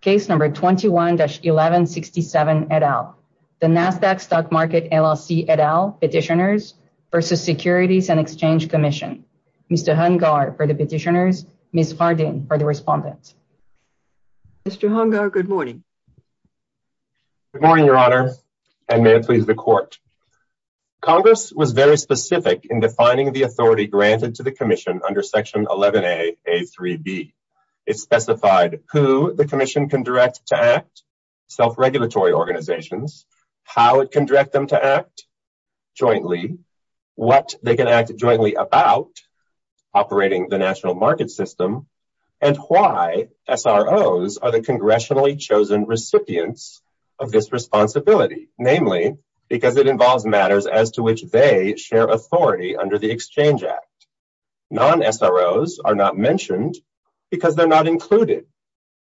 Case number 21-1167 et al. The Nasdaq Stock Market LLC et al. Petitioners versus Securities and Exchange Commission. Mr. Hungar for the petitioners, Ms. Hardin for the respondents. Mr. Hungar, good morning. Good morning, Your Honor, and may it please the court. Congress was very specific in defining the authority granted to the commission under Section 11a)(a)(3)(b). It specified who the commission can direct to act, self-regulatory organizations, how it can direct them to act jointly, what they can act jointly about, operating the national market system, and why SROs are the congressionally chosen recipients of this responsibility. Namely, because it involves matters as to which they share authority under the Exchange Act. Non-SROs are not mentioned because they're not included.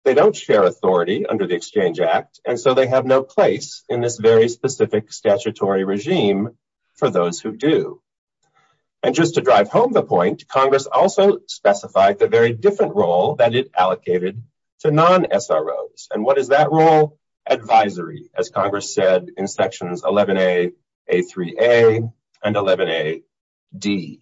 They don't share authority under the Exchange Act, and so they have no place in this very specific statutory regime for those who do. And just to drive home the point, Congress also specified the very different role that it allocated to non-SROs. And what is that role? Advisory, as Congress said in Sections 11a)(a)(3)(a), and 11a)(d).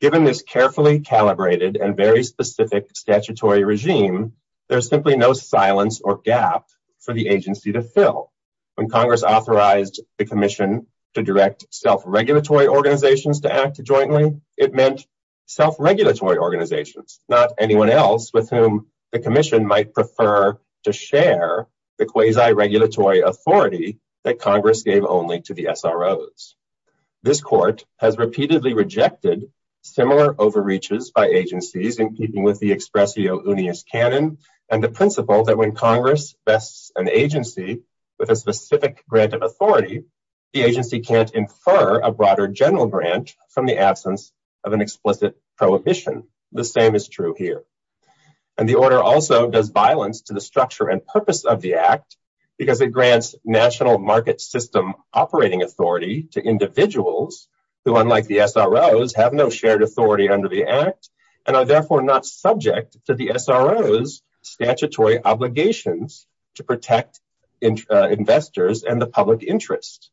Given this carefully calibrated and very specific statutory regime, there's simply no silence or gap for the agency to fill. When Congress authorized the commission to direct self-regulatory organizations to act jointly, it meant self-regulatory organizations, not anyone else with whom the commission might prefer to share the quasi-regulatory authority that Congress gave only to the SROs. This Court has repeatedly rejected similar overreaches by agencies in keeping with the expressio unius canon and the principle that when Congress vests an agency with a specific grant of authority, the agency can't infer a broader general grant from the SROs. And the order also does violence to the structure and purpose of the Act because it grants national market system operating authority to individuals who, unlike the SROs, have no shared authority under the Act and are therefore not subject to the SROs' statutory obligations to protect investors and the public interest.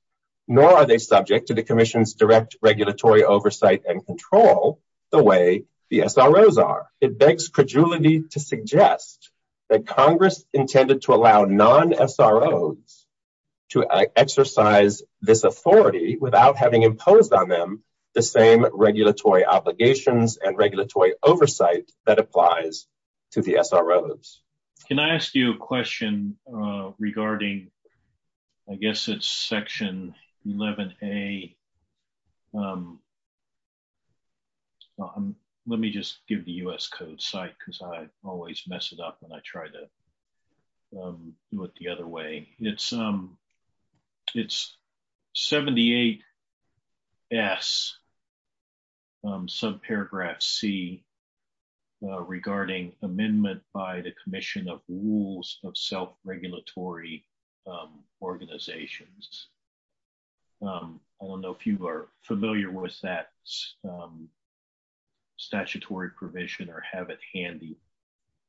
Nor are they subject to the commission's direct regulatory oversight and control the way the SROs are. It begs credulity to suggest that Congress intended to allow non-SROs to exercise this authority without having imposed on them the same regulatory obligations and regulatory oversight that applies to the SROs. Can I ask you a question regarding, I guess it's section 11a, let me just give the U.S. Code site because I always mess it up when I try to do it the other way. It's 78s subparagraph c regarding amendment by the commission of rules of self-regulatory organizations. I don't know if you are familiar with that statutory provision or have it handy,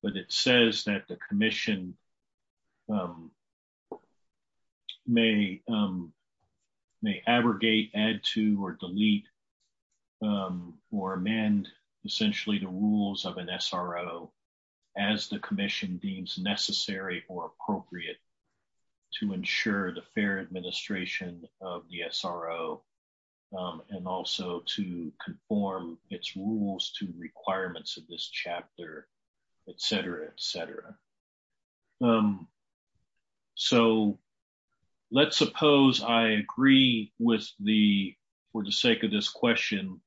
but it says that the commission may abrogate, add to, or delete, or amend essentially the rules of an SRO as the commission deems necessary or appropriate to ensure the fair administration of the SRO and also to conform its rules to requirements of this chapter, etc., etc. So let's suppose I agree with the, for the sake of this question,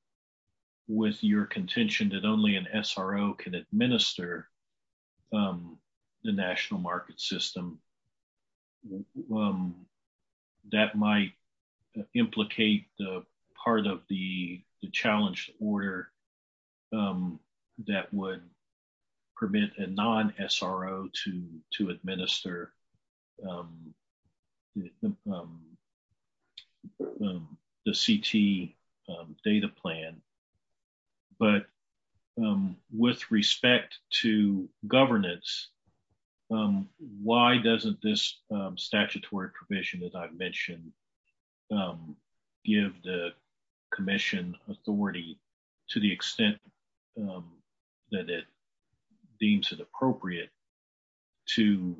with your contention that only an SRO can administer the national market system. That might implicate the part of the challenge order that would permit a non-SRO to administer the CT data plan. But with respect to governance, why doesn't this statutory provision that I've mentioned give the commission authority to the extent that it deems it appropriate to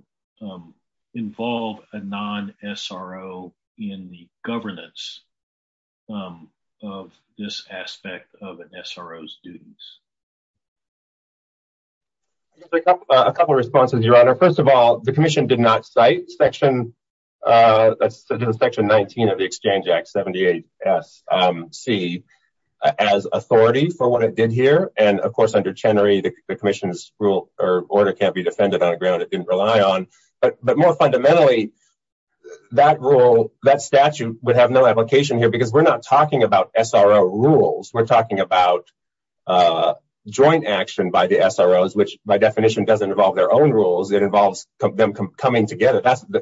involve a non-SRO in the governance of this aspect of an SRO's duties? A couple of responses, your honor. First of all, the commission did not cite section 19 of the exchange act 78s c as authority for what it did here. And of course, under Chenery, the commission's rule or order can't be defended on a ground it didn't rely on. But more fundamentally, that rule, that statute would have no application here because we're not talking about SRO rules. We're talking about joint action by the SROs, which by definition doesn't involve their own rules. It involves them coming together. That's the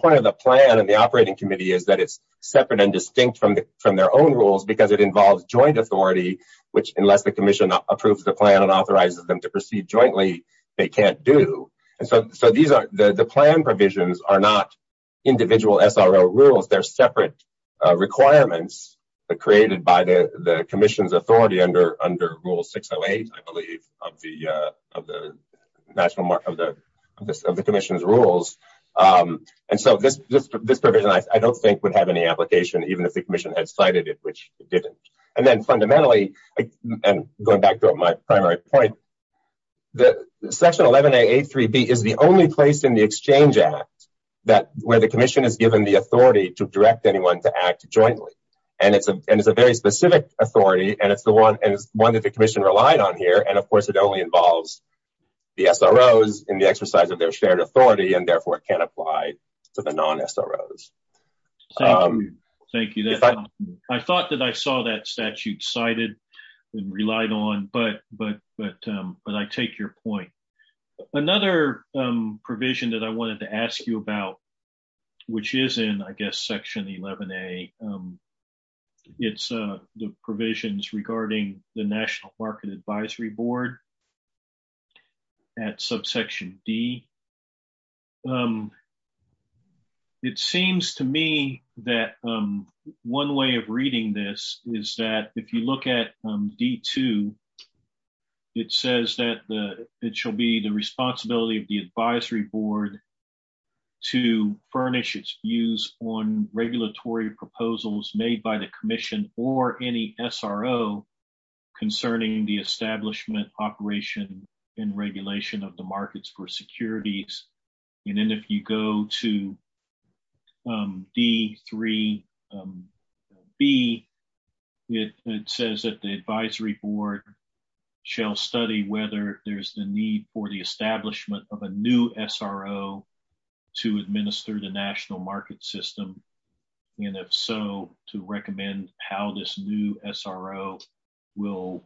point of the plan and the operating committee is that it's separate and distinct from their own rules because it involves joint authority, which unless the commission approves the plan and authorizes them to proceed jointly, they can't do. And so the plan provisions are not individual SRO rules. They're separate requirements created by the commission's authority under rule 608, I believe, of the commission's rules. And so this provision, I don't think would have any application, even if the commission had cited it, which it didn't. And then fundamentally, and going back to my primary point, the section 11A, A3B is the only place in the exchange act where the commission is given the authority to direct anyone to act jointly. And it's a very specific authority. And it's the one that the commission relied on here. And of course, it only involves the SROs in the exercise of their shared authority, and therefore it can't apply to the SROs. Thank you. I thought that I saw that statute cited and relied on, but I take your point. Another provision that I wanted to ask you about, which is in, I guess, section 11A, it's the provisions regarding the National Market Advisory Board at subsection D. It seems to me that one way of reading this is that if you look at D2, it says that it shall be the responsibility of the advisory board to furnish its views on regulatory proposals made by the commission or any SRO concerning the establishment, operation, and regulation of the markets for securities. And then if you go to D3B, it says that the advisory board shall study whether there's the need for the establishment of a new SRO to administer the national market system. And if so, to recommend how this new SRO will,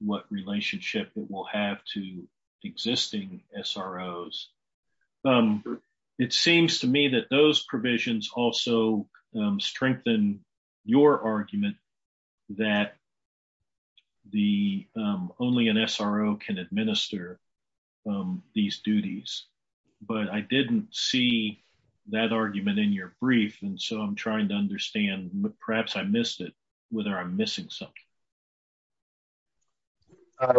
what relationship it will have to existing SROs. It seems to me that those provisions also strengthen your argument that the, only an SRO can administer these duties. But I didn't see that argument in your brief, and so I'm trying to understand, perhaps I missed it, whether I'm missing something.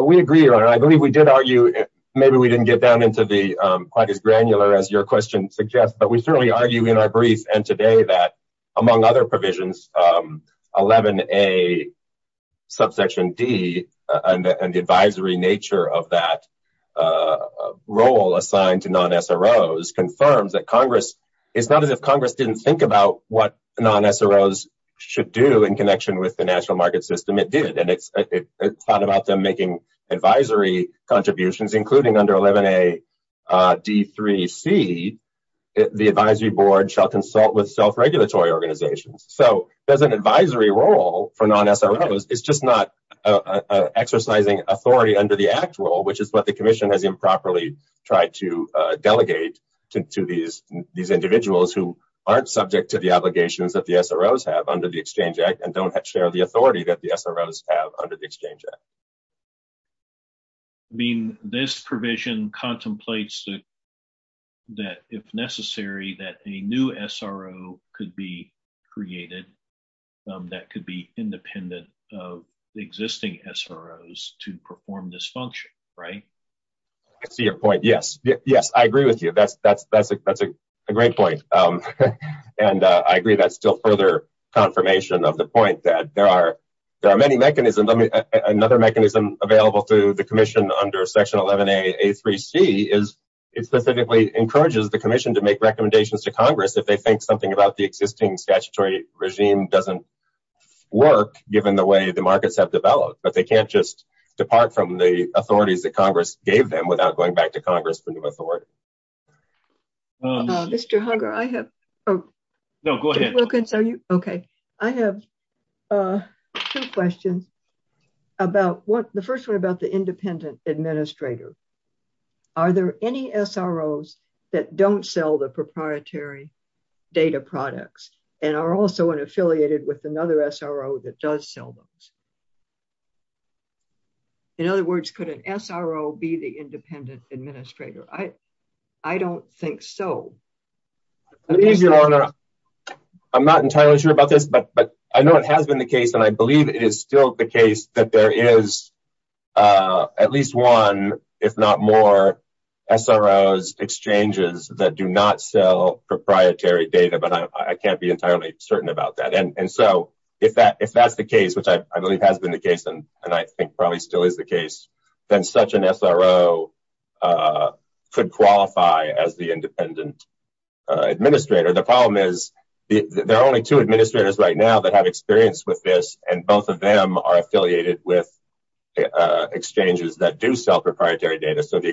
We agree, Your Honor. I believe we did argue, maybe we didn't get down into the, quite as granular as your question suggests, but we certainly argue in our brief and today that, among other provisions, 11A subsection D and the advisory nature of that role assigned to non-SROs confirms that Congress, it's not as if Congress didn't think about what non-SROs should do in connection with the national market system, it did. And it's thought about them making advisory contributions, including under 11A D3C, the advisory board shall consult with self-regulatory organizations. So there's an advisory role for non-SROs, it's just not exercising authority under the act role, which is what the commission has improperly tried to delegate to these individuals who aren't subject to the obligations that the SROs have under the exchange act and don't share the authority that the SROs have under the exchange act. I mean, this provision contemplates that if necessary, that a new SRO could be created that could be independent of the existing SROs to perform this function, right? I see your point. Yes. Yes, I agree with you. That's a great point. And I agree that's still further confirmation of the point that there are many mechanisms. Another mechanism available to the commission under section 11A A3C is it specifically encourages the commission to make recommendations to Congress if they think something about the existing statutory regime doesn't work given the way the markets have developed, but they can't just depart from the authorities that Congress gave them without going back to Congress for new authority. Mr. Hunger, I have two questions. The first one about the independent administrator. Are there any SROs that don't sell the proprietary data products and are also affiliated with another SRO that does sell those? In other words, could an SRO be the independent administrator? I don't think so. I'm not entirely sure about this, but I know it has been the case and I believe it is still the case that there is at least one, if not more, SROs exchanges that do not sell proprietary data, but I can't be entirely certain about that. And so if that's the case, which I believe has been the case and I think probably still is the case, then such an SRO could qualify as the independent administrator. The problem is there are only two administrators right now that have experience with this and both of them are affiliated with exchanges that do sell proprietary data, so the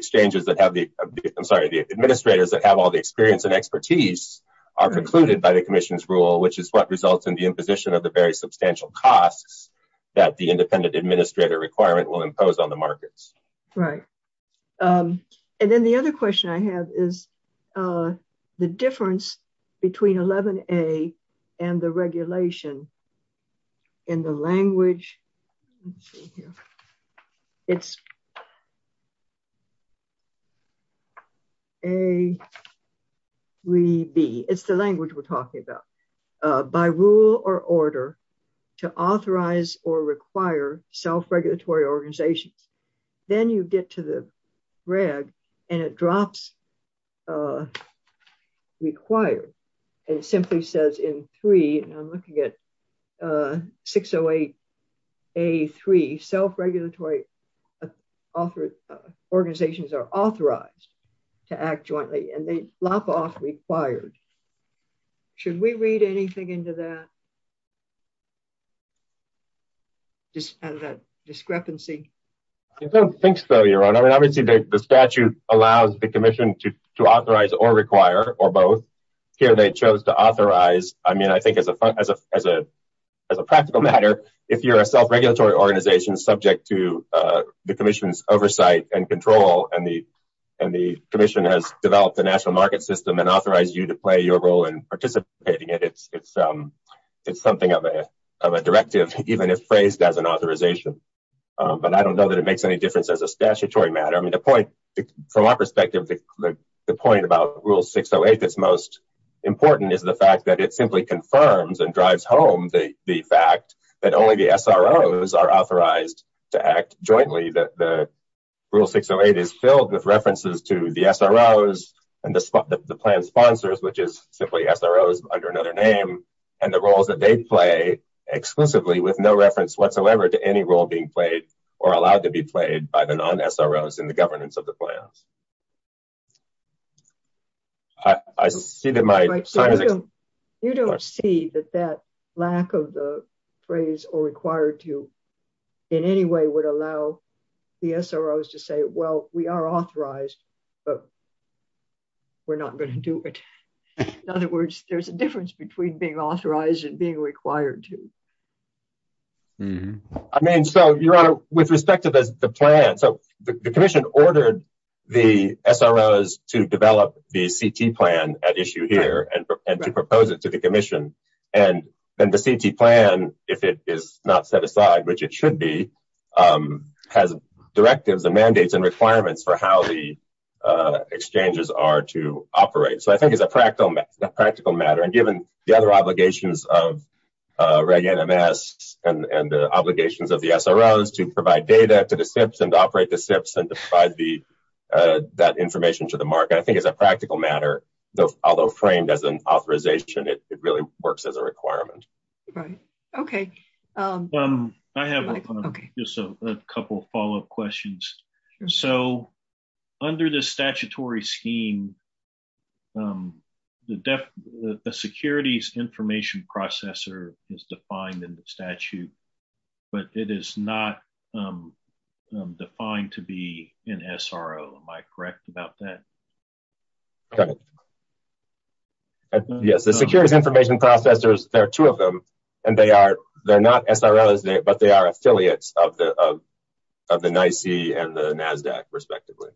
administrators that have all the experience and expertise are precluded by the commission's rule, which is what results in the imposition of the very substantial costs that the independent administrator requirement will impose on the markets. Right. And then the other question I have is the difference between 11A and the regulation. In the language, let's see here, it's A, B, it's the language we're talking about, by rule or order to authorize or require self-regulatory organizations. Then you get to the reg and it drops off required and simply says in three, and I'm looking at 608A3, self-regulatory organizations are authorized to act jointly and they lop off required. Should we read anything into that? Just add that discrepancy. I don't think so, Your Honor. I mean, obviously the statute allows the commission to authorize or require or both. Here they chose to authorize. I mean, I think as a practical matter, if you're a self-regulatory organization subject to the commission's oversight and control and the commission has developed a national market system and authorized you to play your role in participating in it, it's something of a directive, even if phrased as an authorization. But I don't know that it makes any difference as a statutory matter. From our perspective, the point about rule 608 that's most important is the fact that it simply confirms and drives home the fact that only the SROs are authorized to act jointly. The rule 608 is filled with references to the SROs and the plan sponsors, which is simply SROs under another name and the roles that they play exclusively with no reference whatsoever to any role being played or allowed to be played by the non-SROs in the governance of the plans. You don't see that that lack of the phrase or required to in any way would allow the SROs to say, well, we are authorized, but we're not going to do it. In other words, there's a difference between being authorized and being required to. I mean, so your honor, with respect to the plan, so the commission ordered the SROs to develop the CT plan at issue here and to propose it to the commission. And then the CT plan, if it is not set aside, which it should be, has directives and mandates and requirements for how the practical matter. And given the other obligations of Reg NMS and the obligations of the SROs to provide data to the SIPs and operate the SIPs and to provide that information to the market, I think as a practical matter, although framed as an authorization, it really works as a requirement. Okay. I have just a couple of follow-up questions. So under the statutory scheme, the securities information processor is defined in the statute, but it is not defined to be an SRO. Am I correct about that? Yes, the securities information processors, there are two of them and they are, they're not SROs, but they are affiliates of the NYSE and the NASDAQ respectively.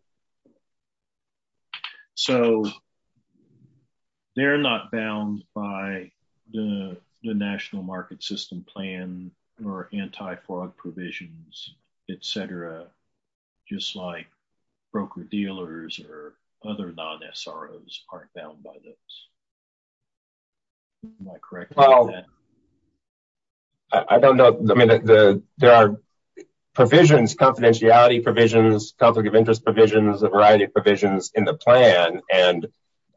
So they're not bound by the national market system plan or anti-fraud provisions, et cetera, just like broker-dealers or other non-SROs aren't bound by those. I don't know. I mean, there are provisions, confidentiality provisions, conflict of interest provisions, a variety of provisions in the plan. And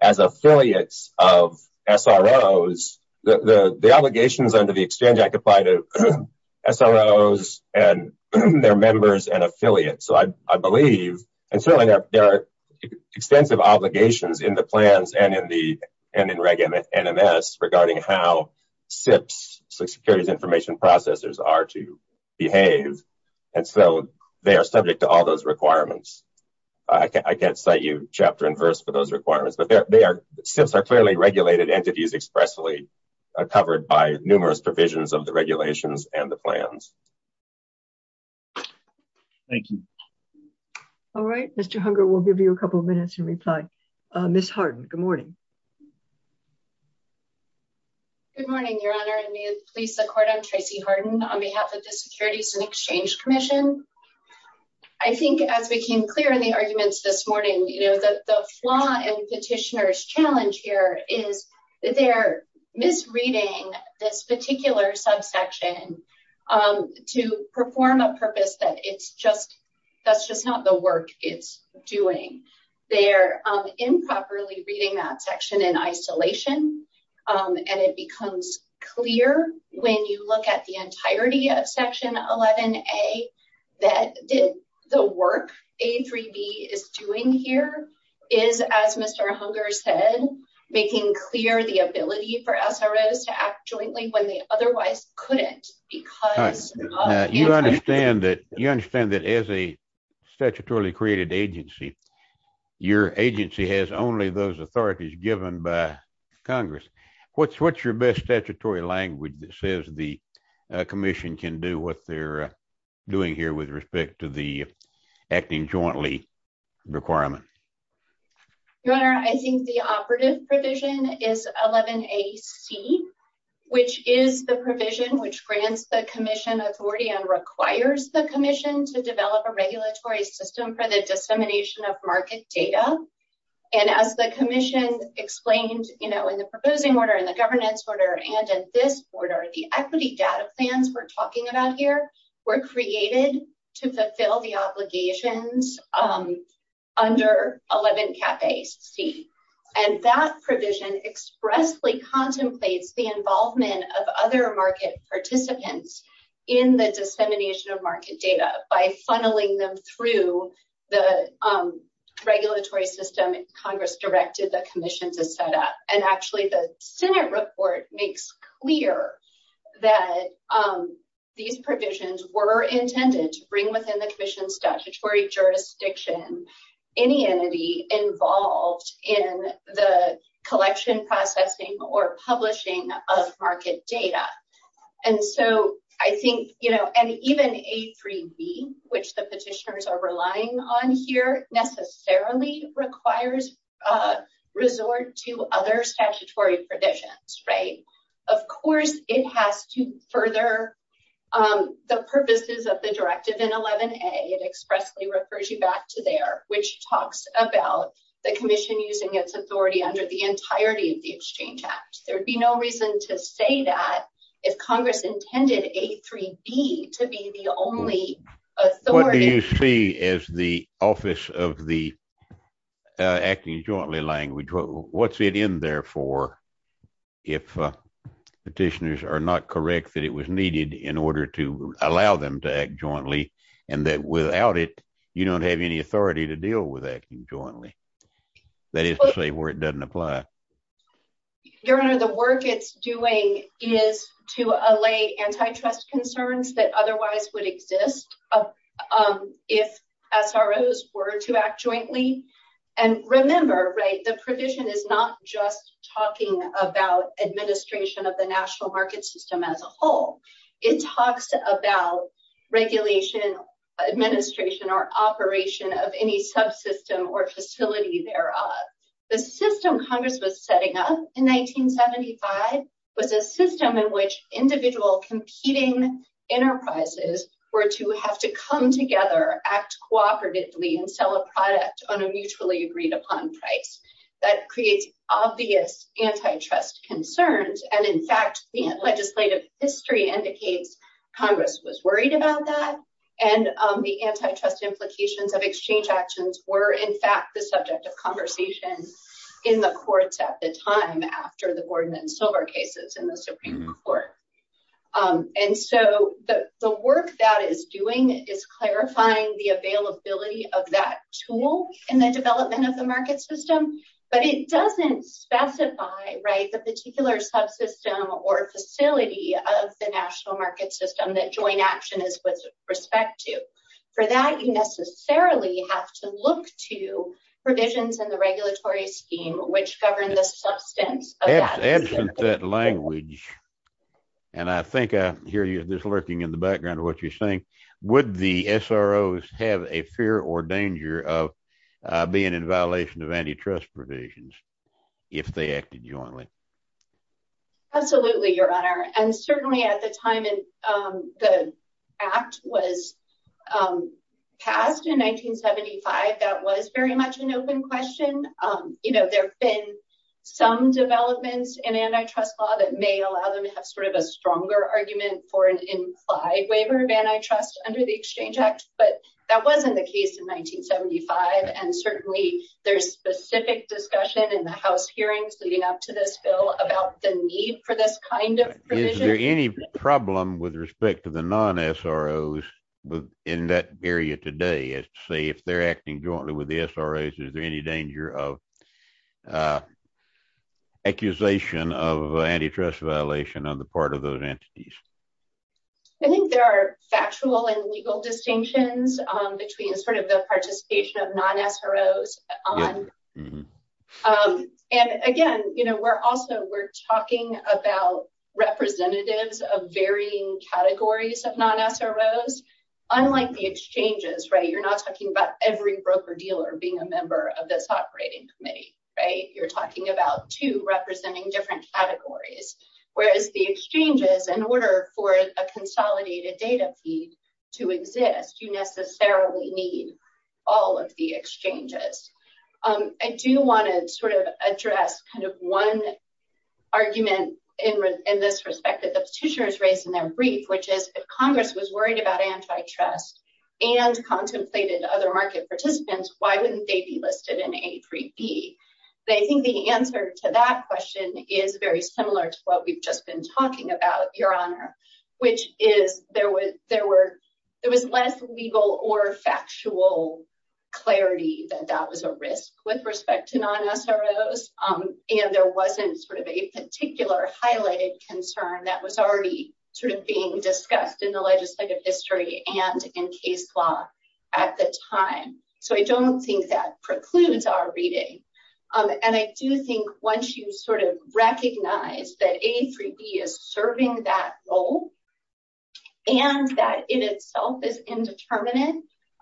as affiliates of SROs, the obligations under the exchange act apply to SROs and their members and affiliates. So I believe, and certainly there are extensive obligations in the plans and in Reg NMS regarding how SIPs, securities information processors are to behave. And so they are subject to all those requirements. I can't cite you chapter and verse for those requirements, but they are, SIPs are clearly regulated entities expressly covered by numerous provisions of the regulations and the plans. Thank you. All right. Mr. Hunger, we'll give you a couple of minutes and reply. Ms. Good morning, your honor. And may it please the court, I'm Tracy Harden on behalf of the Securities and Exchange Commission. I think as we came clear in the arguments this morning, you know, the flaw in petitioner's challenge here is that they're misreading this particular subsection to perform a purpose that it's just, that's just not the work it's doing. They're improperly reading that section in isolation. And it becomes clear when you look at the entirety of section 11A that the work A3B is doing here is, as Mr. Hunger said, making clear the ability for SROs to act jointly when they otherwise couldn't. You understand that as a statutorily created agency, your agency has only those authorities given by Congress. What's your best statutory language that says the commission can do what they're doing here with respect to the acting jointly requirement? Your honor, I think the operative provision is 11AC, which is the provision which grants the commission authority and requires the commission to develop a regulatory system for the dissemination of market data. And as the commission explained, you know, in the proposing order, in the governance order, and in this order, the equity data plans we're talking about here were created to fulfill the obligations under 11C. And that provision expressly contemplates the involvement of other market participants in the dissemination of market data by funneling them through the regulatory system Congress directed the commission to set up. And actually the Senate report makes clear that these provisions were intended to bring within the commission's statutory jurisdiction any entity involved in the collection, processing, or which the petitioners are relying on here necessarily requires resort to other statutory provisions, right? Of course, it has to further the purposes of the directive in 11A. It expressly refers you back to there, which talks about the commission using its authority under the entirety of the Exchange Act. There'd be no reason to say that if Congress intended A3B to be the only authority. What do you see as the office of the acting jointly language? What's it in there for if petitioners are not correct that it was needed in order to allow them to act jointly and that without it you don't have any authority to deal with acting jointly? That is to say where it doesn't apply. Your Honor, the work it's doing is to allay antitrust concerns that otherwise would exist if SROs were to act jointly. And remember, right, the provision is not just talking about administration of the national market system as a whole. It talks about regulation, administration, or operation of any subsystem or facility thereof. The system Congress was setting up in 1975 was a system in which individual competing enterprises were to have to come together, act cooperatively, and sell a product on a mutually agreed upon price. That creates obvious antitrust concerns and in fact the legislative history indicates Congress was worried about that and the antitrust implications of exchange actions were in fact the subject of conversation in the courts at the time after the and so the work that is doing is clarifying the availability of that tool in the development of the market system but it doesn't specify, right, the particular subsystem or facility of the national market system that joint action is with respect to. For that you necessarily have to look to provisions in the regulatory scheme which govern the substance. Absent that language and I think I hear you just lurking in the background of what you're saying, would the SROs have a fear or danger of being in violation of antitrust provisions if they acted jointly? Absolutely, your honor, and certainly at the time the act was passed in 1975 that was very much an open question. You know, there have been some that may allow them to have sort of a stronger argument for an implied waiver of antitrust under the exchange act but that wasn't the case in 1975 and certainly there's specific discussion in the house hearings leading up to this bill about the need for this kind of provision. Is there any problem with respect to the non-SROs in that area today as to say if they're acting jointly with the SROs, is there any danger of accusation of antitrust violation on the part of those entities? I think there are factual and legal distinctions between sort of the participation of non-SROs and again, you know, we're also we're talking about representatives of varying categories of non-SROs unlike the exchanges, right? You're not talking about every broker dealer being a member of this operating committee, right? You're talking about two representing different categories whereas the exchanges in order for a consolidated data feed to exist, you necessarily need all of the exchanges. I do want to sort of address kind of one argument in this respect that the petitioners raised in their brief which is if congress was worried about antitrust and contemplated other market participants, why wouldn't they be listed in A3B? I think the answer to that question is very similar to what we've just been talking about, your honor, which is there was less legal or factual clarity that that was a risk with respect to non-SROs and there wasn't sort of a particular highlighted concern that was already sort of being discussed in the legislative history and in case law at the time. So I don't think that precludes our reading and I do think once you sort of recognize that A3B is serving that role and that in itself is indeterminate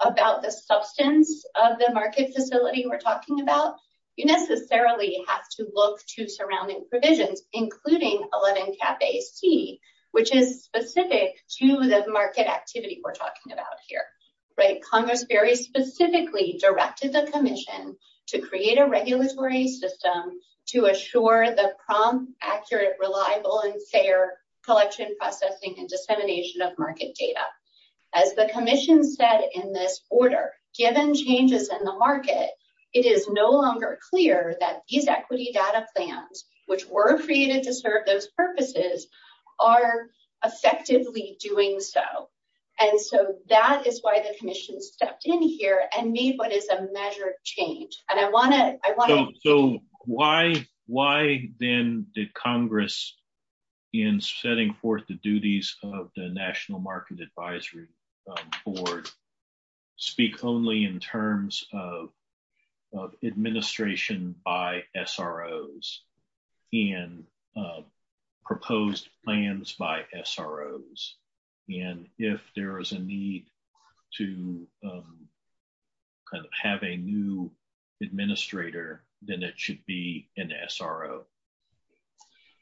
about the substance of the market facility we're talking about, you necessarily have to look to surrounding provisions including 11 cap AC which is specific to the market activity we're talking about here, right? Congress very specifically directed the commission to create a regulatory system to assure the prompt, accurate, reliable, and fair collection, processing, and dissemination of market data. As the commission said in this order, given changes in the market it is no longer clear that these equity data plans which were created to serve those purposes are effectively doing so and so that is why the commission stepped in here and made what is a measure of change. So why then did Congress in setting forth the duties of the terms of administration by SROs and proposed plans by SROs and if there is a need to have a new administrator then it should be an SRO.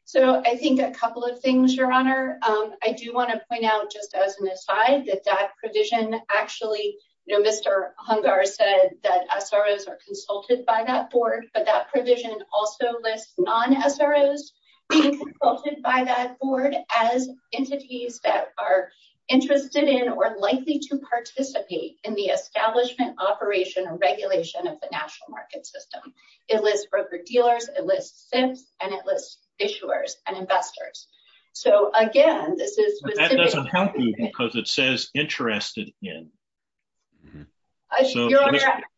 So I think a couple of things your honor. I do want to point out just as an aside that that provision actually you know Mr. Hungar said that SROs are consulted by that board but that provision also lists non-SROs being consulted by that board as entities that are interested in or likely to participate in the establishment, operation, and regulation of the national market system. It lists broker-dealers, it lists SIPs, it lists issuers, and investors. So again this is... That doesn't help you because it says interested in.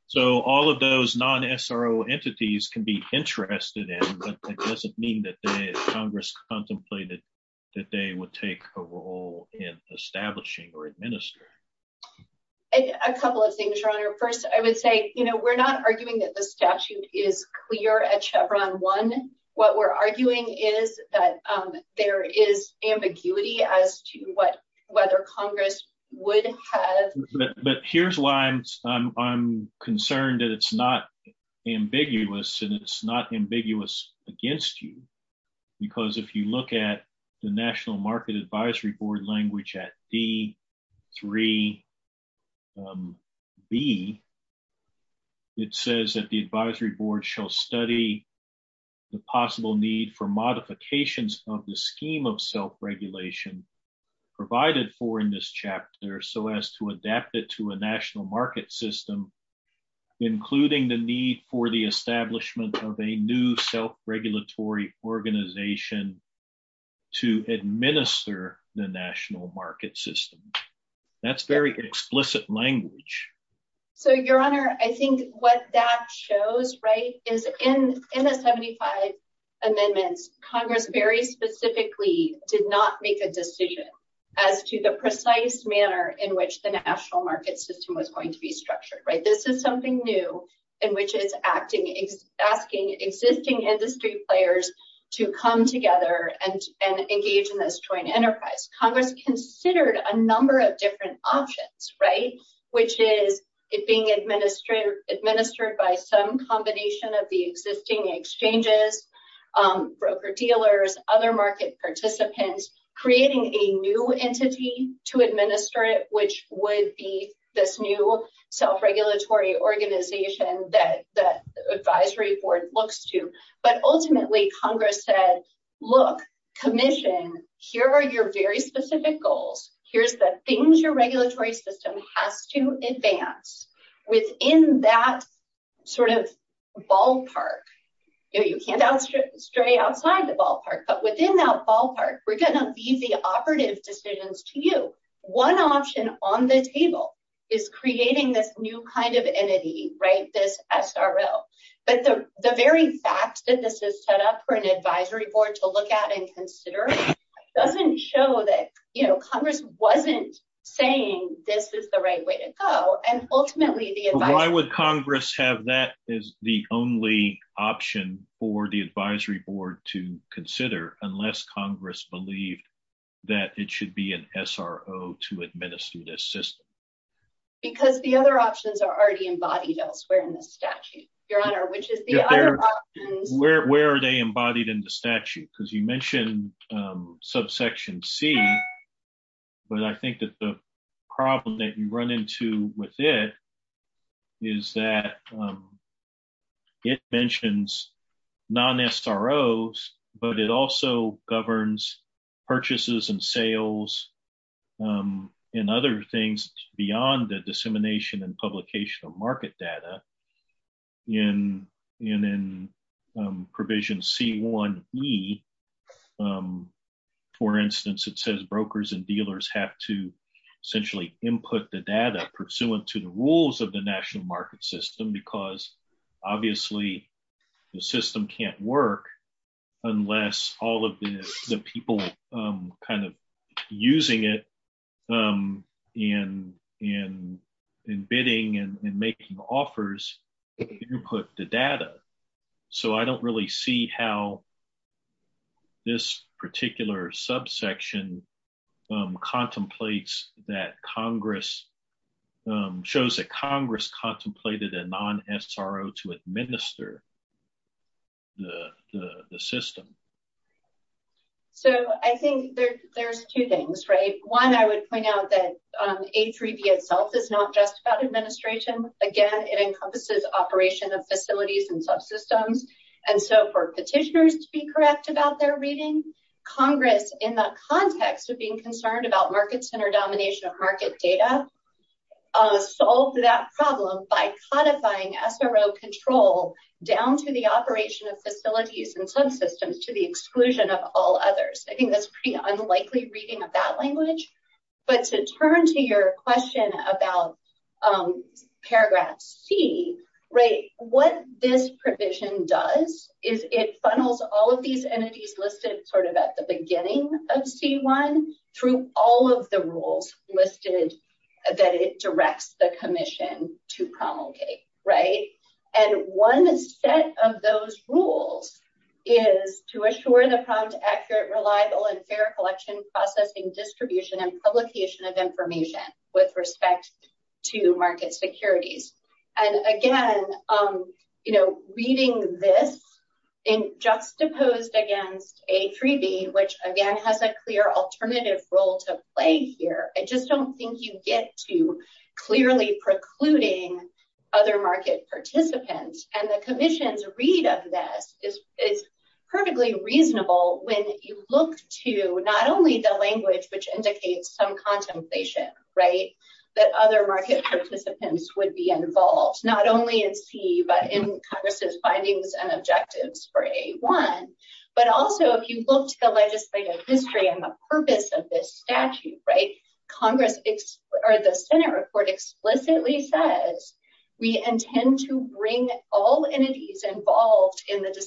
So all of those non-SRO entities can be interested in but that doesn't mean that Congress contemplated that they would take a role in establishing or administering. A couple of things your honor. First I would say you know we're not arguing that the statute is clear at Chevron 1. What we're arguing is that there is ambiguity as to what whether Congress would have... But here's why I'm concerned that it's not ambiguous and it's not ambiguous against you because if you look at the national market advisory board language at D3B it says that the advisory board shall study the possible need for modifications of the scheme of self-regulation provided for in this chapter so as to adapt it to a national market system including the need for the establishment of a new self-regulatory organization to administer the national market system. That's very explicit language. So your honor I think what that shows right is in the 75 amendments Congress very specifically did not make a decision as to the precise manner in which the national market system was going to be structured right. This is something new in which it's asking existing industry players to come together and engage in this enterprise. Congress considered a number of different options right which is it being administered by some combination of the existing exchanges, broker-dealers, other market participants creating a new entity to administer it which would be this new self-regulatory organization that the advisory board looks to. But ultimately Congress said look commission here are your very specific goals. Here's the things your regulatory system has to advance within that sort of ballpark. You can't stray outside the ballpark but within that ballpark we're going to leave the operative decisions to you. One option on the table is creating this new kind of entity right this SRO. But the the very fact that this is set up for an advisory board to look at and consider doesn't show that you know Congress wasn't saying this is the right way to go. And ultimately why would Congress have that as the only option for the advisory board to consider unless Congress believed that it should be an SRO to administer this system? Because the other options are already embodied elsewhere in the statute, your honor. Which is where are they embodied in the statute? Because you mentioned subsection c but I think that the problem that you run into with it is that it mentions non-SROs but it also governs purchases and sales and other things beyond the dissemination and publication of market data. And in provision c1e for instance it says brokers and dealers have to input the data pursuant to the rules of the national market system because obviously the system can't work unless all of the people kind of using it in bidding and making offers input the data. So I don't really see how this particular subsection contemplates that Congress shows that Congress contemplated a non-SRO to administer the system. So I think there's two things right. One I would point out that H3B itself is not just about administration. Again it encompasses operation of facilities and subsystems and so for petitioners to be correct about their reading, Congress in the context of being concerned about market center domination of market data solved that problem by codifying SRO control down to the operation of facilities and subsystems to the exclusion of all others. I think that's pretty unlikely reading of that language. But to turn to your question about paragraph c right what this provision does is it funnels all of these entities listed sort of at the beginning of c1 through all of the rules listed that it directs the commission to promulgate right. And one set of those rules is to assure the prompt accurate reliable and fair collection processing distribution and publication of information with respect to market securities. And again you know reading this in juxtaposed against H3B which again has a clear alternative role to play here. I just don't think you get to clearly precluding other market participants and the commission's read of this is perfectly reasonable when you look to not only the language which indicates some contemplation right that other market participants would be involved not only in c but in Congress's findings and objectives for a1 but also if you look to the legislative history and the purpose of this statute right Congress or the Senate report explicitly says we intend to bring all entities involved in the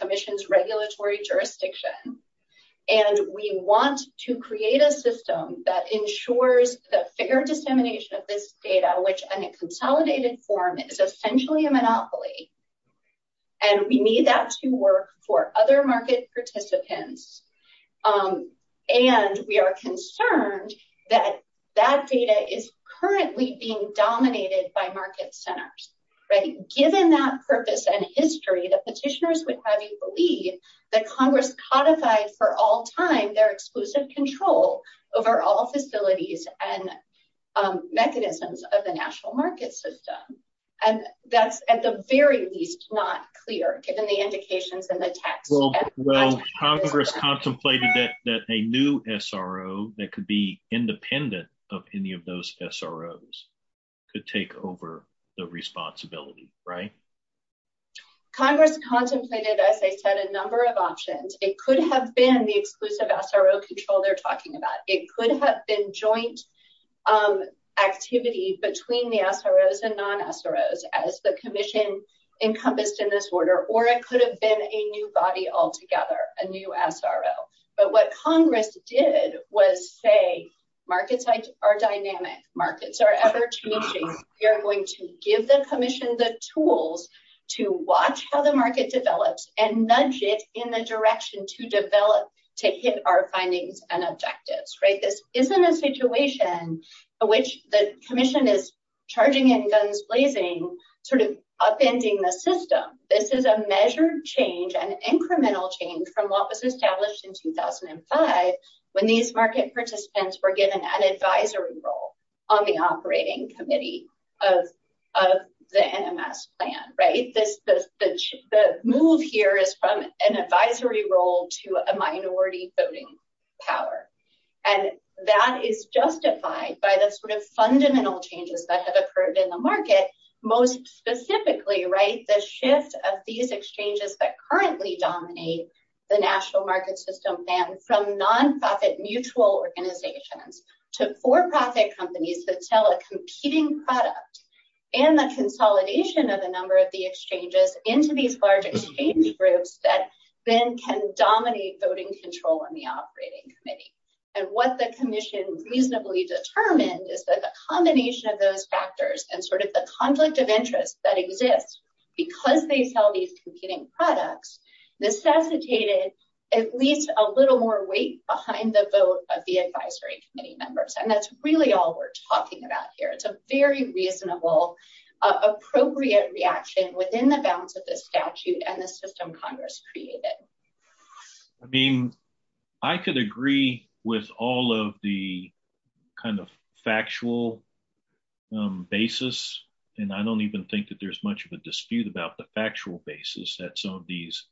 commission's regulatory jurisdiction and we want to create a system that ensures the fair dissemination of this data which in a consolidated form is essentially a monopoly and we need that to work for other market participants. And we are concerned that that data is currently being dominated by market centers right given that purpose and history the would have you believe that Congress codified for all time their exclusive control over all facilities and mechanisms of the national market system and that's at the very least not clear given the indications in the text. Well Congress contemplated that that a new SRO that could be independent of any of those SROs could take over the responsibility right? Congress contemplated as I said a number of options it could have been the exclusive SRO control they're talking about it could have been joint activity between the SROs and non-SROs as the commission encompassed in this order or it could have been a new body altogether a new SRO but what Congress did was say markets are dynamic markets are ever-changing we are going to give the commission the tools to watch how the market develops and nudge it in the direction to develop to hit our findings and objectives right? This isn't a situation which the commission is charging in guns blazing sort of upending the system this is a measured change an incremental change from what was established in 2005 when these market participants were given an advisory role on the the NMS plan right? The move here is from an advisory role to a minority voting power and that is justified by the sort of fundamental changes that have occurred in the market most specifically right the shift of these exchanges that currently dominate the national market system plan from non-profit mutual organizations to for-profit companies that competing products and the consolidation of a number of the exchanges into these large exchange groups that then can dominate voting control on the operating committee and what the commission reasonably determined is that the combination of those factors and sort of the conflict of interest that exists because they sell these competing products necessitated at least a little more weight behind the vote of the advisory committee members and that's really all we're talking about here it's a very reasonable appropriate reaction within the balance of the statute and the system congress created. I mean I could agree with all of the kind of factual basis and I don't even think that there's much of a dispute about the factual basis that some of these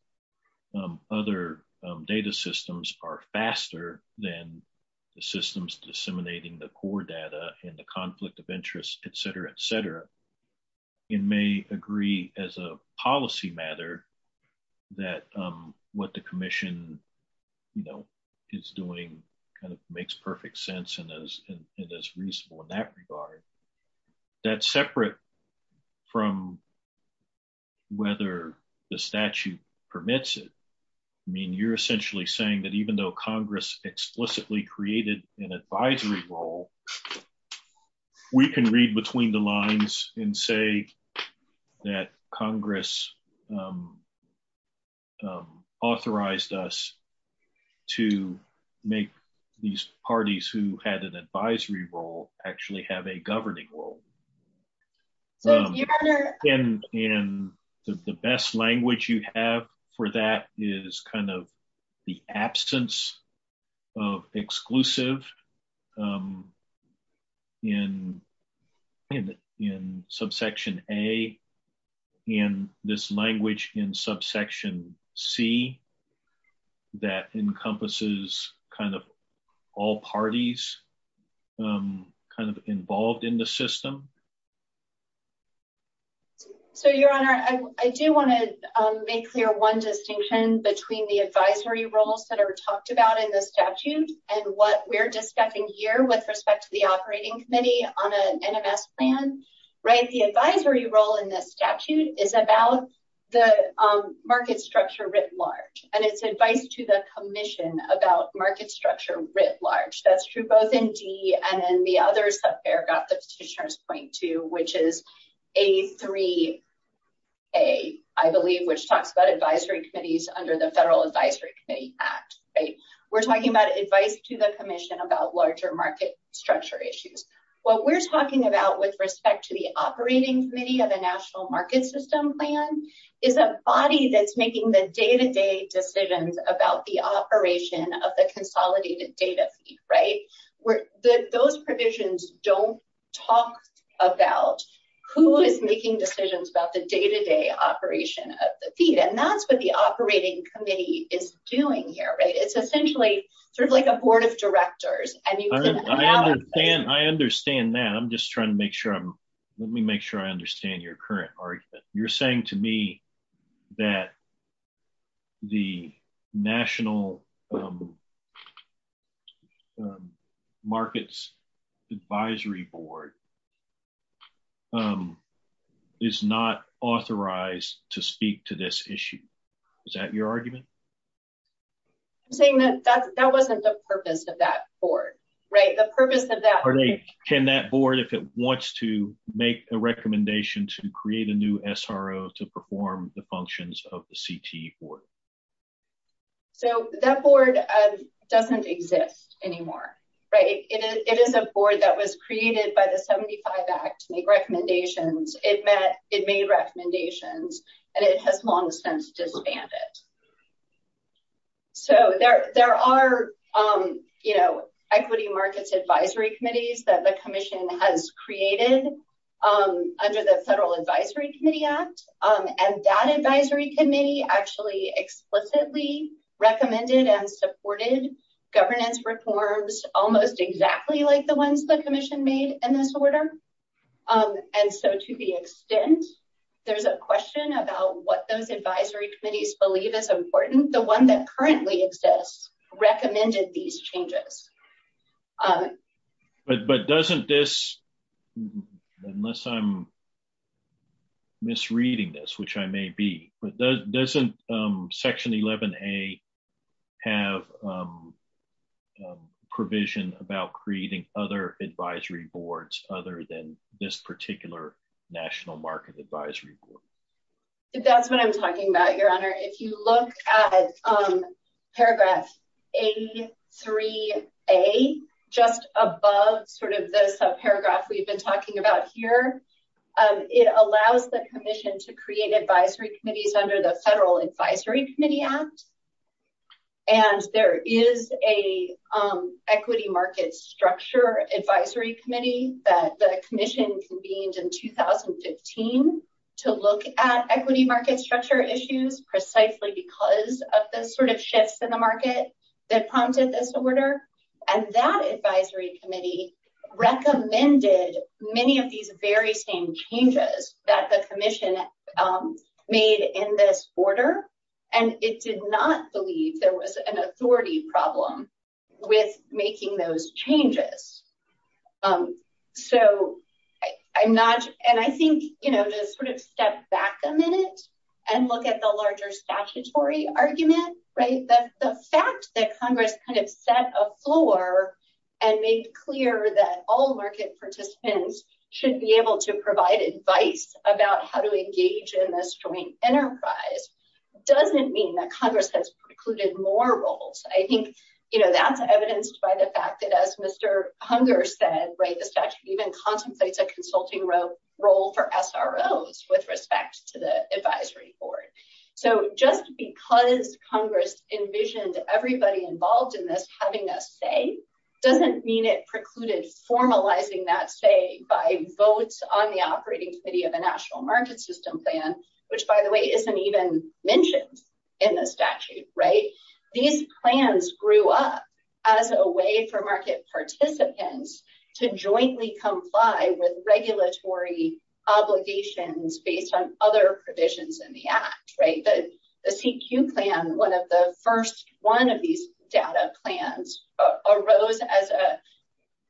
other data systems are faster than the systems disseminating the core data and the conflict of interest etc etc. It may agree as a policy matter that what the commission you know is doing kind of makes perfect sense and as it is reasonable in that regard that's separate from whether the statute permits it. I mean you're essentially saying that even though congress explicitly created an advisory role we can read between the lines and say that role. And the best language you have for that is kind of the absence of exclusive in subsection a and this language in subsection c that encompasses kind of all parties kind of involved in the system. So your honor I do want to make clear one distinction between the advisory roles that are talked about in the statute and what we're discussing here with respect to the operating committee on an NMS plan right. The advisory role in this statute is about the market structure large and it's advice to the commission about market structure writ large. That's true both in d and in the other subfair got the petitioners point to which is a3a I believe which talks about advisory committees under the federal advisory committee act right. We're talking about advice to the commission about larger market structure issues. What we're talking about with respect to the operating committee of a national market system plan is a body that's making the day-to-day decisions about the operation of the consolidated data right where those provisions don't talk about who is making decisions about the day-to-day operation of the feed. And that's what the operating committee is doing here right. It's essentially sort of like a board of directors. I mean I understand that I'm just trying to make sure I'm let me make sure I understand your current argument. You're saying to me that the national markets advisory board is not authorized to speak to this issue. Is that your argument? I'm saying that that wasn't the purpose of that board right. The purpose of that can that board if it wants to make a recommendation to create a new SRO to perform the functions of the CTE board. So that board doesn't exist anymore right. It is a board that was created by the 75 act to make recommendations. It met it made recommendations and it has long since disbanded. So there are you know equity markets advisory committees that the commission has created under the federal advisory committee act. And that advisory committee actually explicitly recommended and supported governance reforms almost exactly like the ones the commission made in this order. And so to the extent there's a question about what those advisory committees believe is important the one that currently exists recommended these changes. But doesn't this unless I'm misreading this which I may be but doesn't section 11a have provision about creating other advisory boards other than this particular national market advisory board. That's what I'm talking about your honor. If you look at paragraph a3a just above sort of this paragraph we've been talking about here it allows the commission to create advisory committees under the federal advisory committee act. And there is a equity market structure advisory committee that the commission convened in 2015 to look at equity market structure issues precisely because of the sort of shifts in the market that prompted this order. And that advisory committee recommended many of these very same changes that the commission made in this order. And it did not believe there was an authority problem with making those changes. So I'm not and I think you know just sort of step back a minute and look at the larger statutory argument right. The fact that congress kind of set a floor and made clear that all market participants should be able to provide advice about how to engage in this joint enterprise doesn't mean that congress has precluded more roles. I think you know that's evidenced by the fact that as Mr. Hunger said right the statute even contemplates a consulting role for SROs with respect to the advisory board. So just because congress envisioned everybody involved in this having a say doesn't mean it precluded formalizing that say by votes on the operating committee of a national market system plan which by the way isn't even mentioned in the statute right. These plans grew up as a way for market participants to jointly comply with regulatory obligations based on other provisions in the act right. The CQ plan one of the first one of these data plans arose as a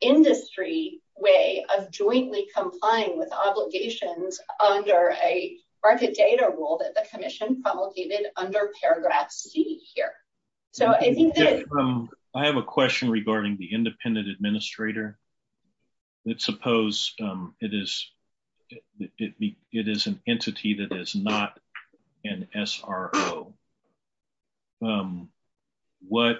industry way of jointly complying with obligations under a market data rule that the commission promulgated under paragraph c here. So I think that I have a question regarding the independent administrator. Let's suppose it is it is an entity that is not an SRO. What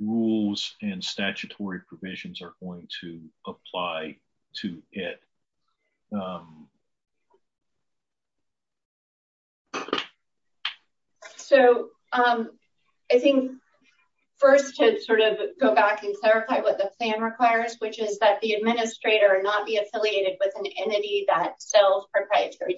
rules and statutory provisions are going to apply to it? So I think first to sort of go back and clarify what the plan requires which is that the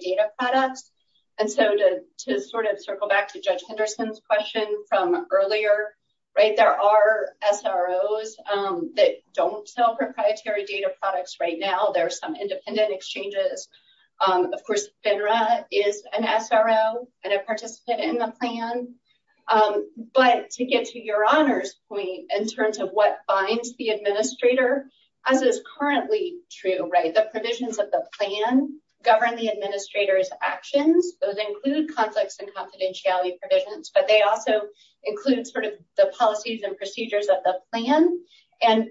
data products and so to to sort of circle back to Judge Henderson's question from earlier right. There are SROs that don't sell proprietary data products right now. There are some independent exchanges. Of course FINRA is an SRO and a participant in the plan but to get to your honors point in terms of what binds the administrator as is currently true right. The provisions of the plan govern the administrator's actions. Those include conflicts and confidentiality provisions but they also include sort of the policies and procedures of the plan and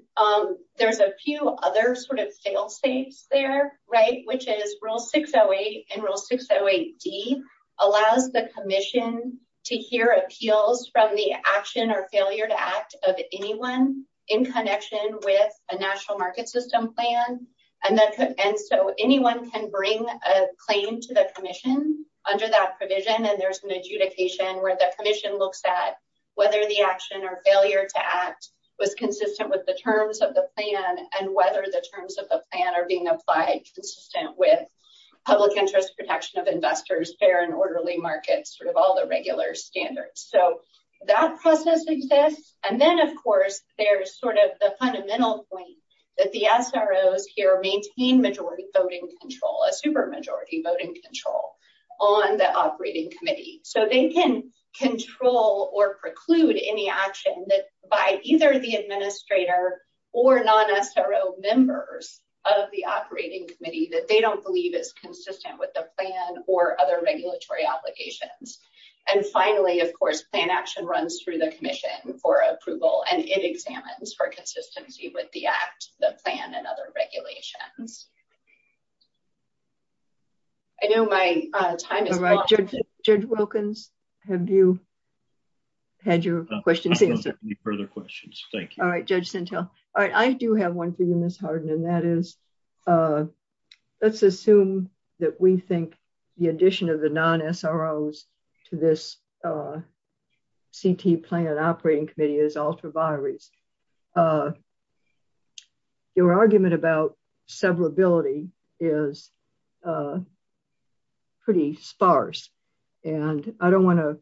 there's a few other sort of fail-safes there right which is rule 608 and rule 608d allows the commission to hear appeals from the action or failure to act of anyone in connection with a national market system plan and that could and so anyone can bring a claim to the commission under that provision and there's an adjudication where the commission looks at whether the action or failure to act was consistent with the terms of the plan and whether the terms of the plan are being applied consistent with public interest protection of investors fair and orderly markets sort of all the regular standards. So that process exists and then of course there's sort of the fundamental point that the SROs here maintain majority voting control a super majority voting control on the operating committee so they can control or preclude any action that by either the administrator or non-SRO members of the operating committee that they don't believe is consistent with the plan or other regulatory obligations and finally of course plan action runs through the commission for approval and it examines for consistency with the act the plan and other regulations. I know my time is up. Judge Wilkins have you had your questions? I don't have any further questions thank you. All right Judge Sintel. All right I do have one for you Miss Harden and that is let's assume that we think the addition of the non-SROs to this CT plan and operating committee is ultra vires. Your argument about severability is pretty sparse and I don't want to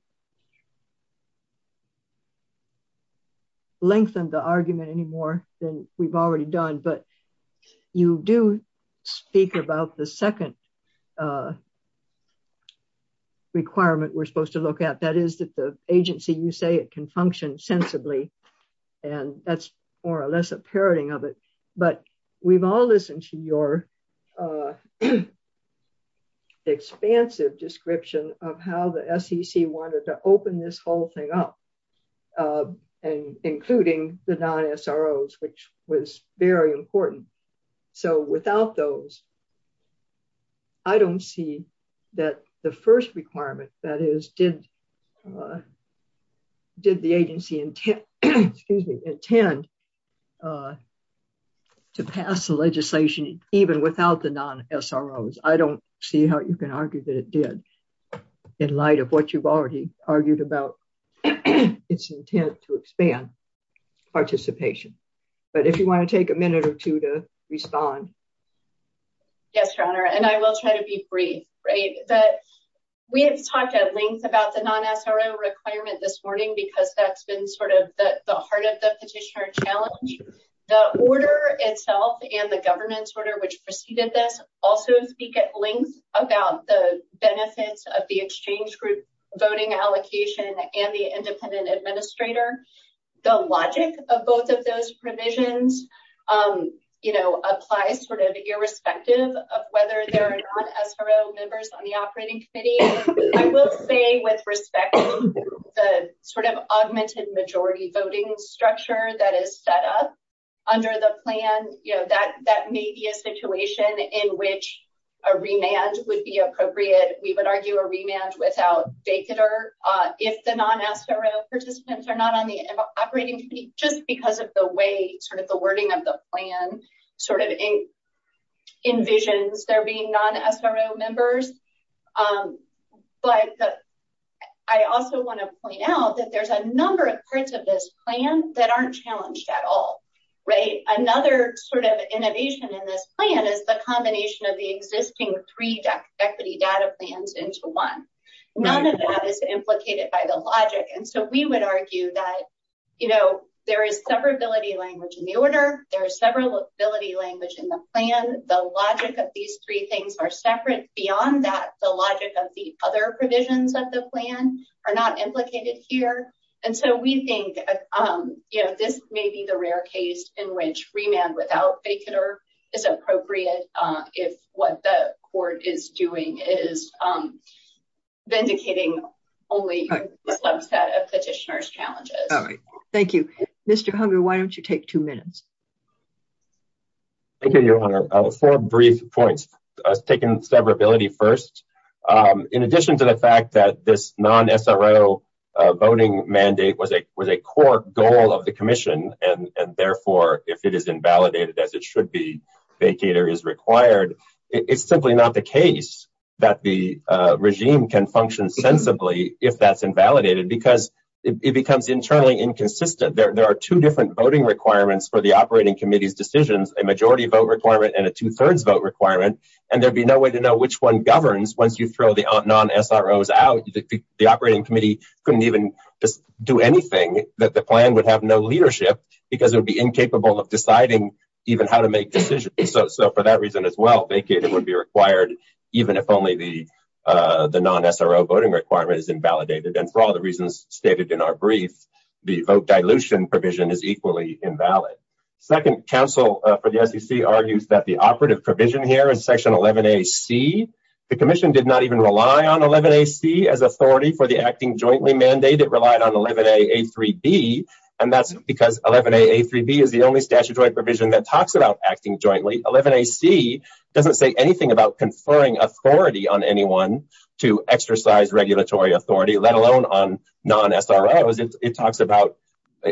lengthen the argument anymore than we've already done but you do speak about the second requirement we're supposed to look at that is that the agency you say it can function sensibly and that's more or less a parroting of it but we've all listened to your expansive description of how the SEC wanted to open this whole thing up and including the non-SROs which was very important so without those I don't see that the first requirement that is did the agency intend to pass the legislation even without the non-SROs. I don't see how you can argue that it did in light of what you've already argued about its intent to expand participation but if you want to take a minute or two to respond. Yes your honor and I will try to be brief. We have talked at the heart of the petitioner challenge. The order itself and the government's order which preceded this also speak at length about the benefits of the exchange group voting allocation and the independent administrator. The logic of both of those provisions applies sort of irrespective of whether there are non-SRO members on the operating committee. I will say with respect the sort of augmented majority voting structure that is set up under the plan you know that that may be a situation in which a remand would be appropriate. We would argue a remand without vacater if the non-SRO participants are not on the operating committee just because of the way sort of the wording of the plan sort of envisions there being non-SRO members but I also want to point out that there's a number of parts of this plan that aren't challenged at all. Another sort of innovation in this plan is the combination of the existing three equity data plans into one. None of that is implicated by the logic and so we would argue that you know there is severability language in the order, there is severability language in the plan, the logic of these three things are separate beyond that the logic of the other provisions of the plan are not implicated here and so we think you know this may be the rare case in which remand without vacater is appropriate if what the court is doing is vindicating only a subset of petitioner's challenges. All right, thank you. Mr. Hunger, why don't you take two minutes? Thank you, your honor. Four brief points. I was taking severability first. In addition to the fact that this non-SRO voting mandate was a was a core goal of the commission and therefore if it is invalidated as it should be vacater is required it's simply not the case that the regime can function sensibly if that's invalidated because it becomes internally inconsistent. There are two different voting requirements for the operating committee's decisions, a majority vote requirement and a two-thirds vote requirement and there'd be no way to know which one governs once you throw the non-SROs out. The operating committee couldn't even do anything that the plan would have no leadership because it would be incapable of deciding even how to make decisions so for that reason as well vacater would be required even if only the non-SRO voting requirement is invalidated and for all the reasons stated in our brief the vote dilution provision is equally invalid. Second, counsel for the sec argues that the operative provision here is section 11ac. The commission did not even rely on 11ac as authority for the acting jointly mandate. It relied on 11a a3b and that's because 11a a3b is the only statutory provision that talks about acting jointly. 11ac doesn't say anything about conferring authority on anyone to exercise regulatory authority let alone on non-SROs. It talks about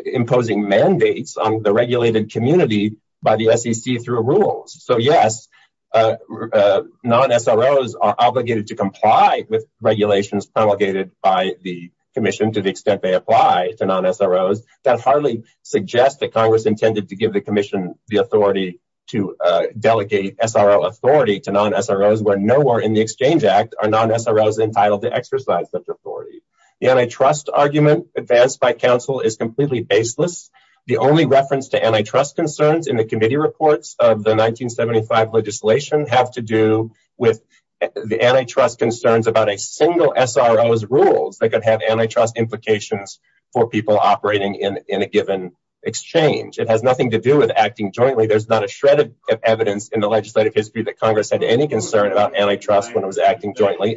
imposing mandates on the regulated community by the sec through rules. So yes, non-SROs are obligated to comply with regulations promulgated by the commission to the extent they apply to non-SROs. That hardly suggests that congress intended to give the commission the authority to delegate SRO authority to non-SROs where nowhere in the exchange act are non-SROs entitled to exercise such authority. The antitrust argument advanced by counsel is completely baseless. The only reference to antitrust concerns in the committee reports of the 1975 legislation have to do with the antitrust concerns about a single SRO's rules that could have antitrust implications for people operating in in a given exchange. It has nothing to do with acting jointly. There's not a shred of evidence in the legislative history that congress had any concern about antitrust when it was acting jointly.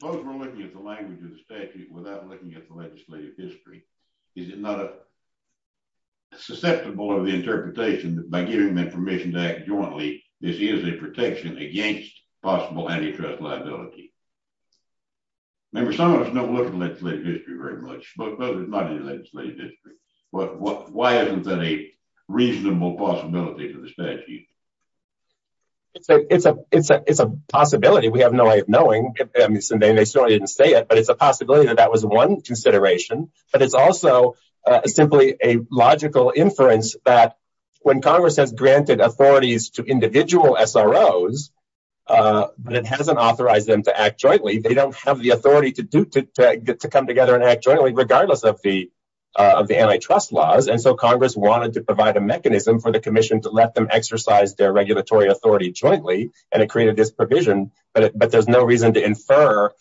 Suppose we're looking at the language of the statute without looking at the legislative history. Is it not a susceptible of the interpretation that by giving them permission to act jointly this is a protection against possible antitrust liability? Remember, some of us don't look at legislative history very much. But why isn't that a reasonable possibility for the statute? It's a possibility. We have no way of knowing. They certainly didn't say it. But it's a possibility that that was one consideration. But it's also simply a logical inference that when congress has granted authorities to individual SROs but it hasn't authorized them to act jointly, they don't have the authority to come together and act jointly regardless of the antitrust laws. And so congress wanted to exercise their regulatory authority jointly and it created this provision. But there's no reason to infer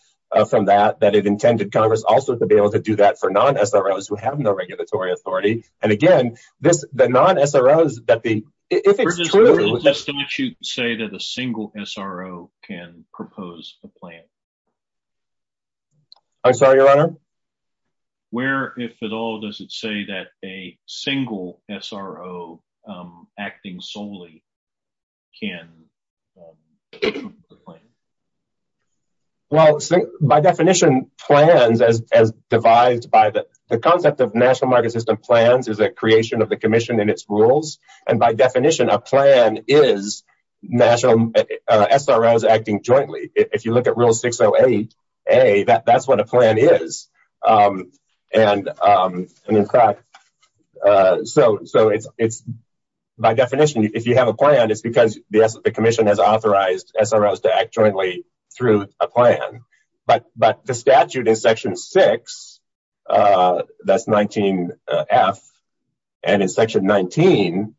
from that that it intended congress also to be able to do that for non-SROs who have no regulatory authority. And again, this the non-SROs that the if it's true, the statute say that a single SRO can propose a plan. I'm sorry your honor? Where if at all does it say that a SRO solely can propose a plan? Well, by definition, plans as as devised by the concept of national market system plans is a creation of the commission in its rules. And by definition, a plan is national SROs acting jointly. If you look at rule 608a, that's what a plan is. And in fact, so it's by definition, if you have a plan, it's because the commission has authorized SROs to act jointly through a plan. But the statute in section 6, that's 19f, and in section 19b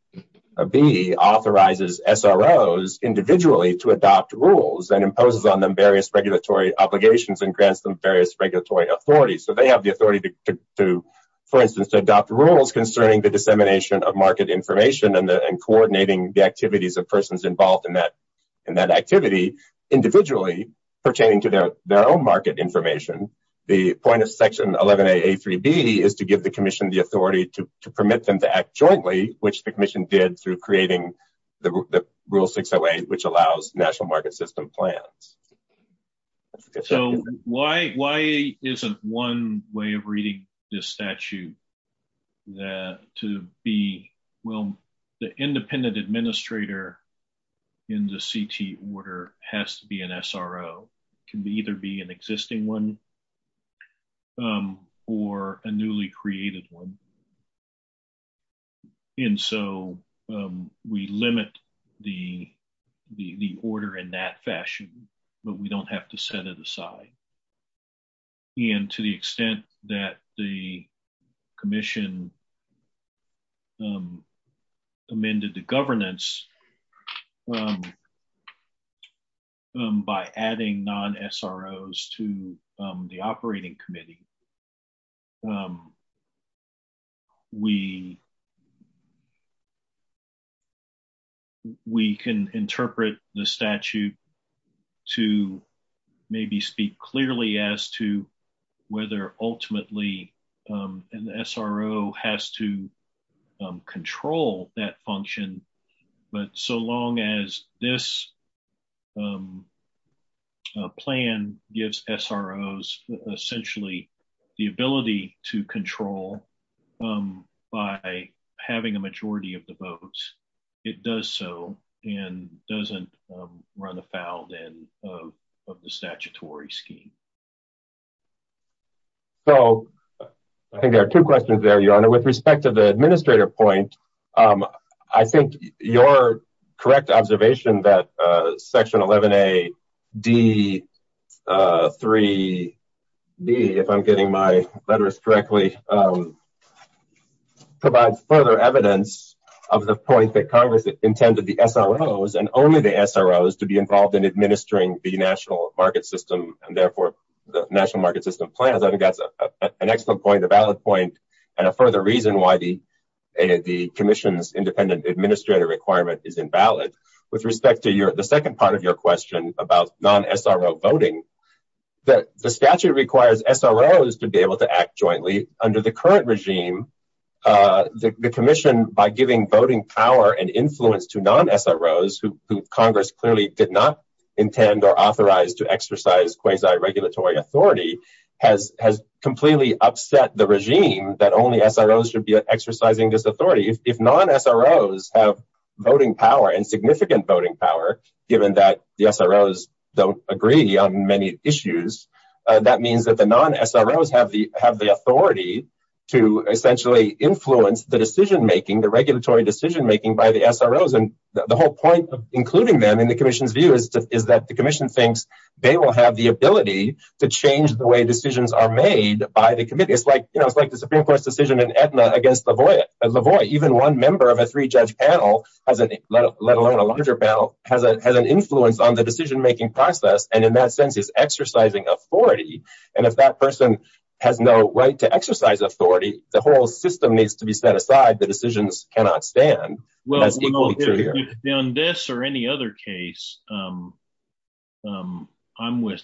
authorizes SROs individually to adopt rules and imposes on them various regulatory authorities. So they have the authority to, for instance, to adopt rules concerning the dissemination of market information and coordinating the activities of persons involved in that activity individually pertaining to their own market information. The point of section 11a a3b is to give the commission the authority to permit them to act jointly, which the commission did through creating the rule 608, which allows national market system plans. So why isn't one way of reading this statute that to be, well, the independent administrator in the CT order has to be an SRO, can be either be an existing one, or a newly created one. And so we limit the order in that fashion, but we don't have to set it aside. And to the extent that the commission amended the governance by adding non-SROs to the operating committee, we we can interpret the statute to maybe speak clearly as to whether ultimately an SRO has to the ability to control by having a majority of the votes. It does so and doesn't run afoul then of the statutory scheme. So I think there are two questions there, Your Honor. With respect to the administrator point, I think your correct observation that section 11a d3b, if I'm getting my letters correctly, provides further evidence of the point that Congress intended the SROs and only the SROs to be involved in administering the national market system and therefore the national market plans. I think that's an excellent point, a valid point, and a further reason why the commission's independent administrator requirement is invalid. With respect to the second part of your question about non-SRO voting, the statute requires SROs to be able to act jointly under the current regime. The commission, by giving voting power and influence to non-SROs who Congress did not intend or authorize to exercise quasi-regulatory authority, has completely upset the regime that only SROs should be exercising this authority. If non-SROs have voting power and significant voting power, given that the SROs don't agree on many issues, that means that the non-SROs have the authority to essentially influence the decision-making, the regulatory decision-making by the SROs. The whole point of including them in the commission's view is that the commission thinks they will have the ability to change the way decisions are made by the committee. It's like the Supreme Court's decision in Aetna against Lavoie. Even one member of a three-judge panel, let alone a larger panel, has an influence on the decision-making process and in that sense is exercising authority. If that person has no right to exercise authority, the whole system needs to be set aside. The decisions cannot stand. In this or any other case, I'm with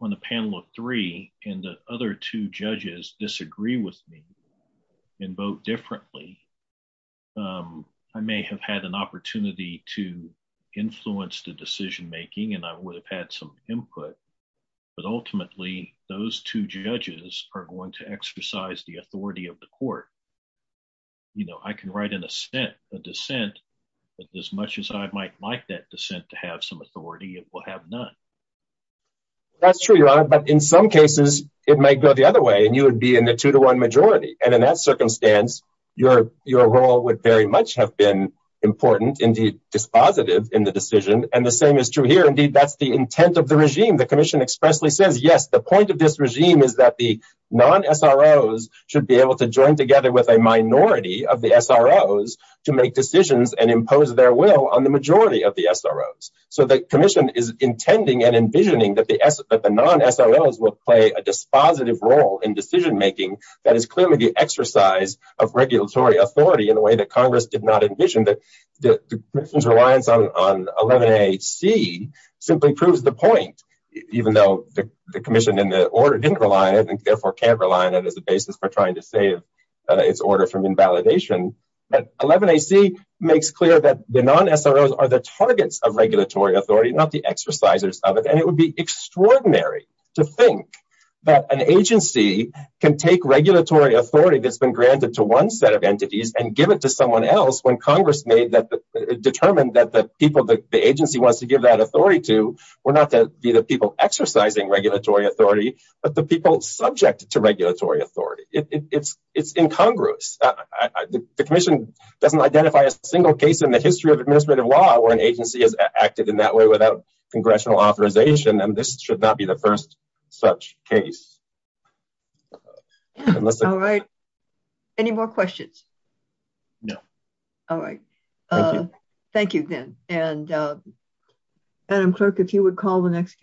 on a panel of three and the other two judges disagree with me and vote differently. I may have had an opportunity to influence the decision-making and I would have some input, but ultimately, those two judges are going to exercise the authority of the court. I can write a dissent, but as much as I might like that dissent to have some authority, it will have none. That's true, Your Honor, but in some cases, it might go the other way and you would be in the two-to-one majority. In that circumstance, your role would very much have been important and dispositive in the decision. The same is true here. Indeed, that's the intent of the regime. The commission expressly says, yes, the point of this regime is that the non-SROs should be able to join together with a minority of the SROs to make decisions and impose their will on the majority of the SROs. The commission is intending and envisioning that the non-SROs will play a dispositive role in decision-making. That is clearly the exercise of regulatory authority in a way that Congress did not envision. The commission's reliance on 11AC simply proves the point, even though the commission and the order didn't rely on it and therefore can't rely on it as a basis for trying to save its order from invalidation. 11AC makes clear that the non-SROs are the targets of regulatory authority, not the exercisers of it. It would be extraordinary to think that an agency can take regulatory authority that's been granted to one set of entities and give it to someone else when Congress determined that the people that the agency wants to give that authority to were not to be the people exercising regulatory authority, but the people subject to regulatory authority. It's incongruous. The commission doesn't identify a single case in the history of administrative law where an agency has acted in that way without congressional authorization, and this should not be the first such case. All right. Any more questions? No. All right. Thank you, Vin. Madam Clerk, if you would call the next case.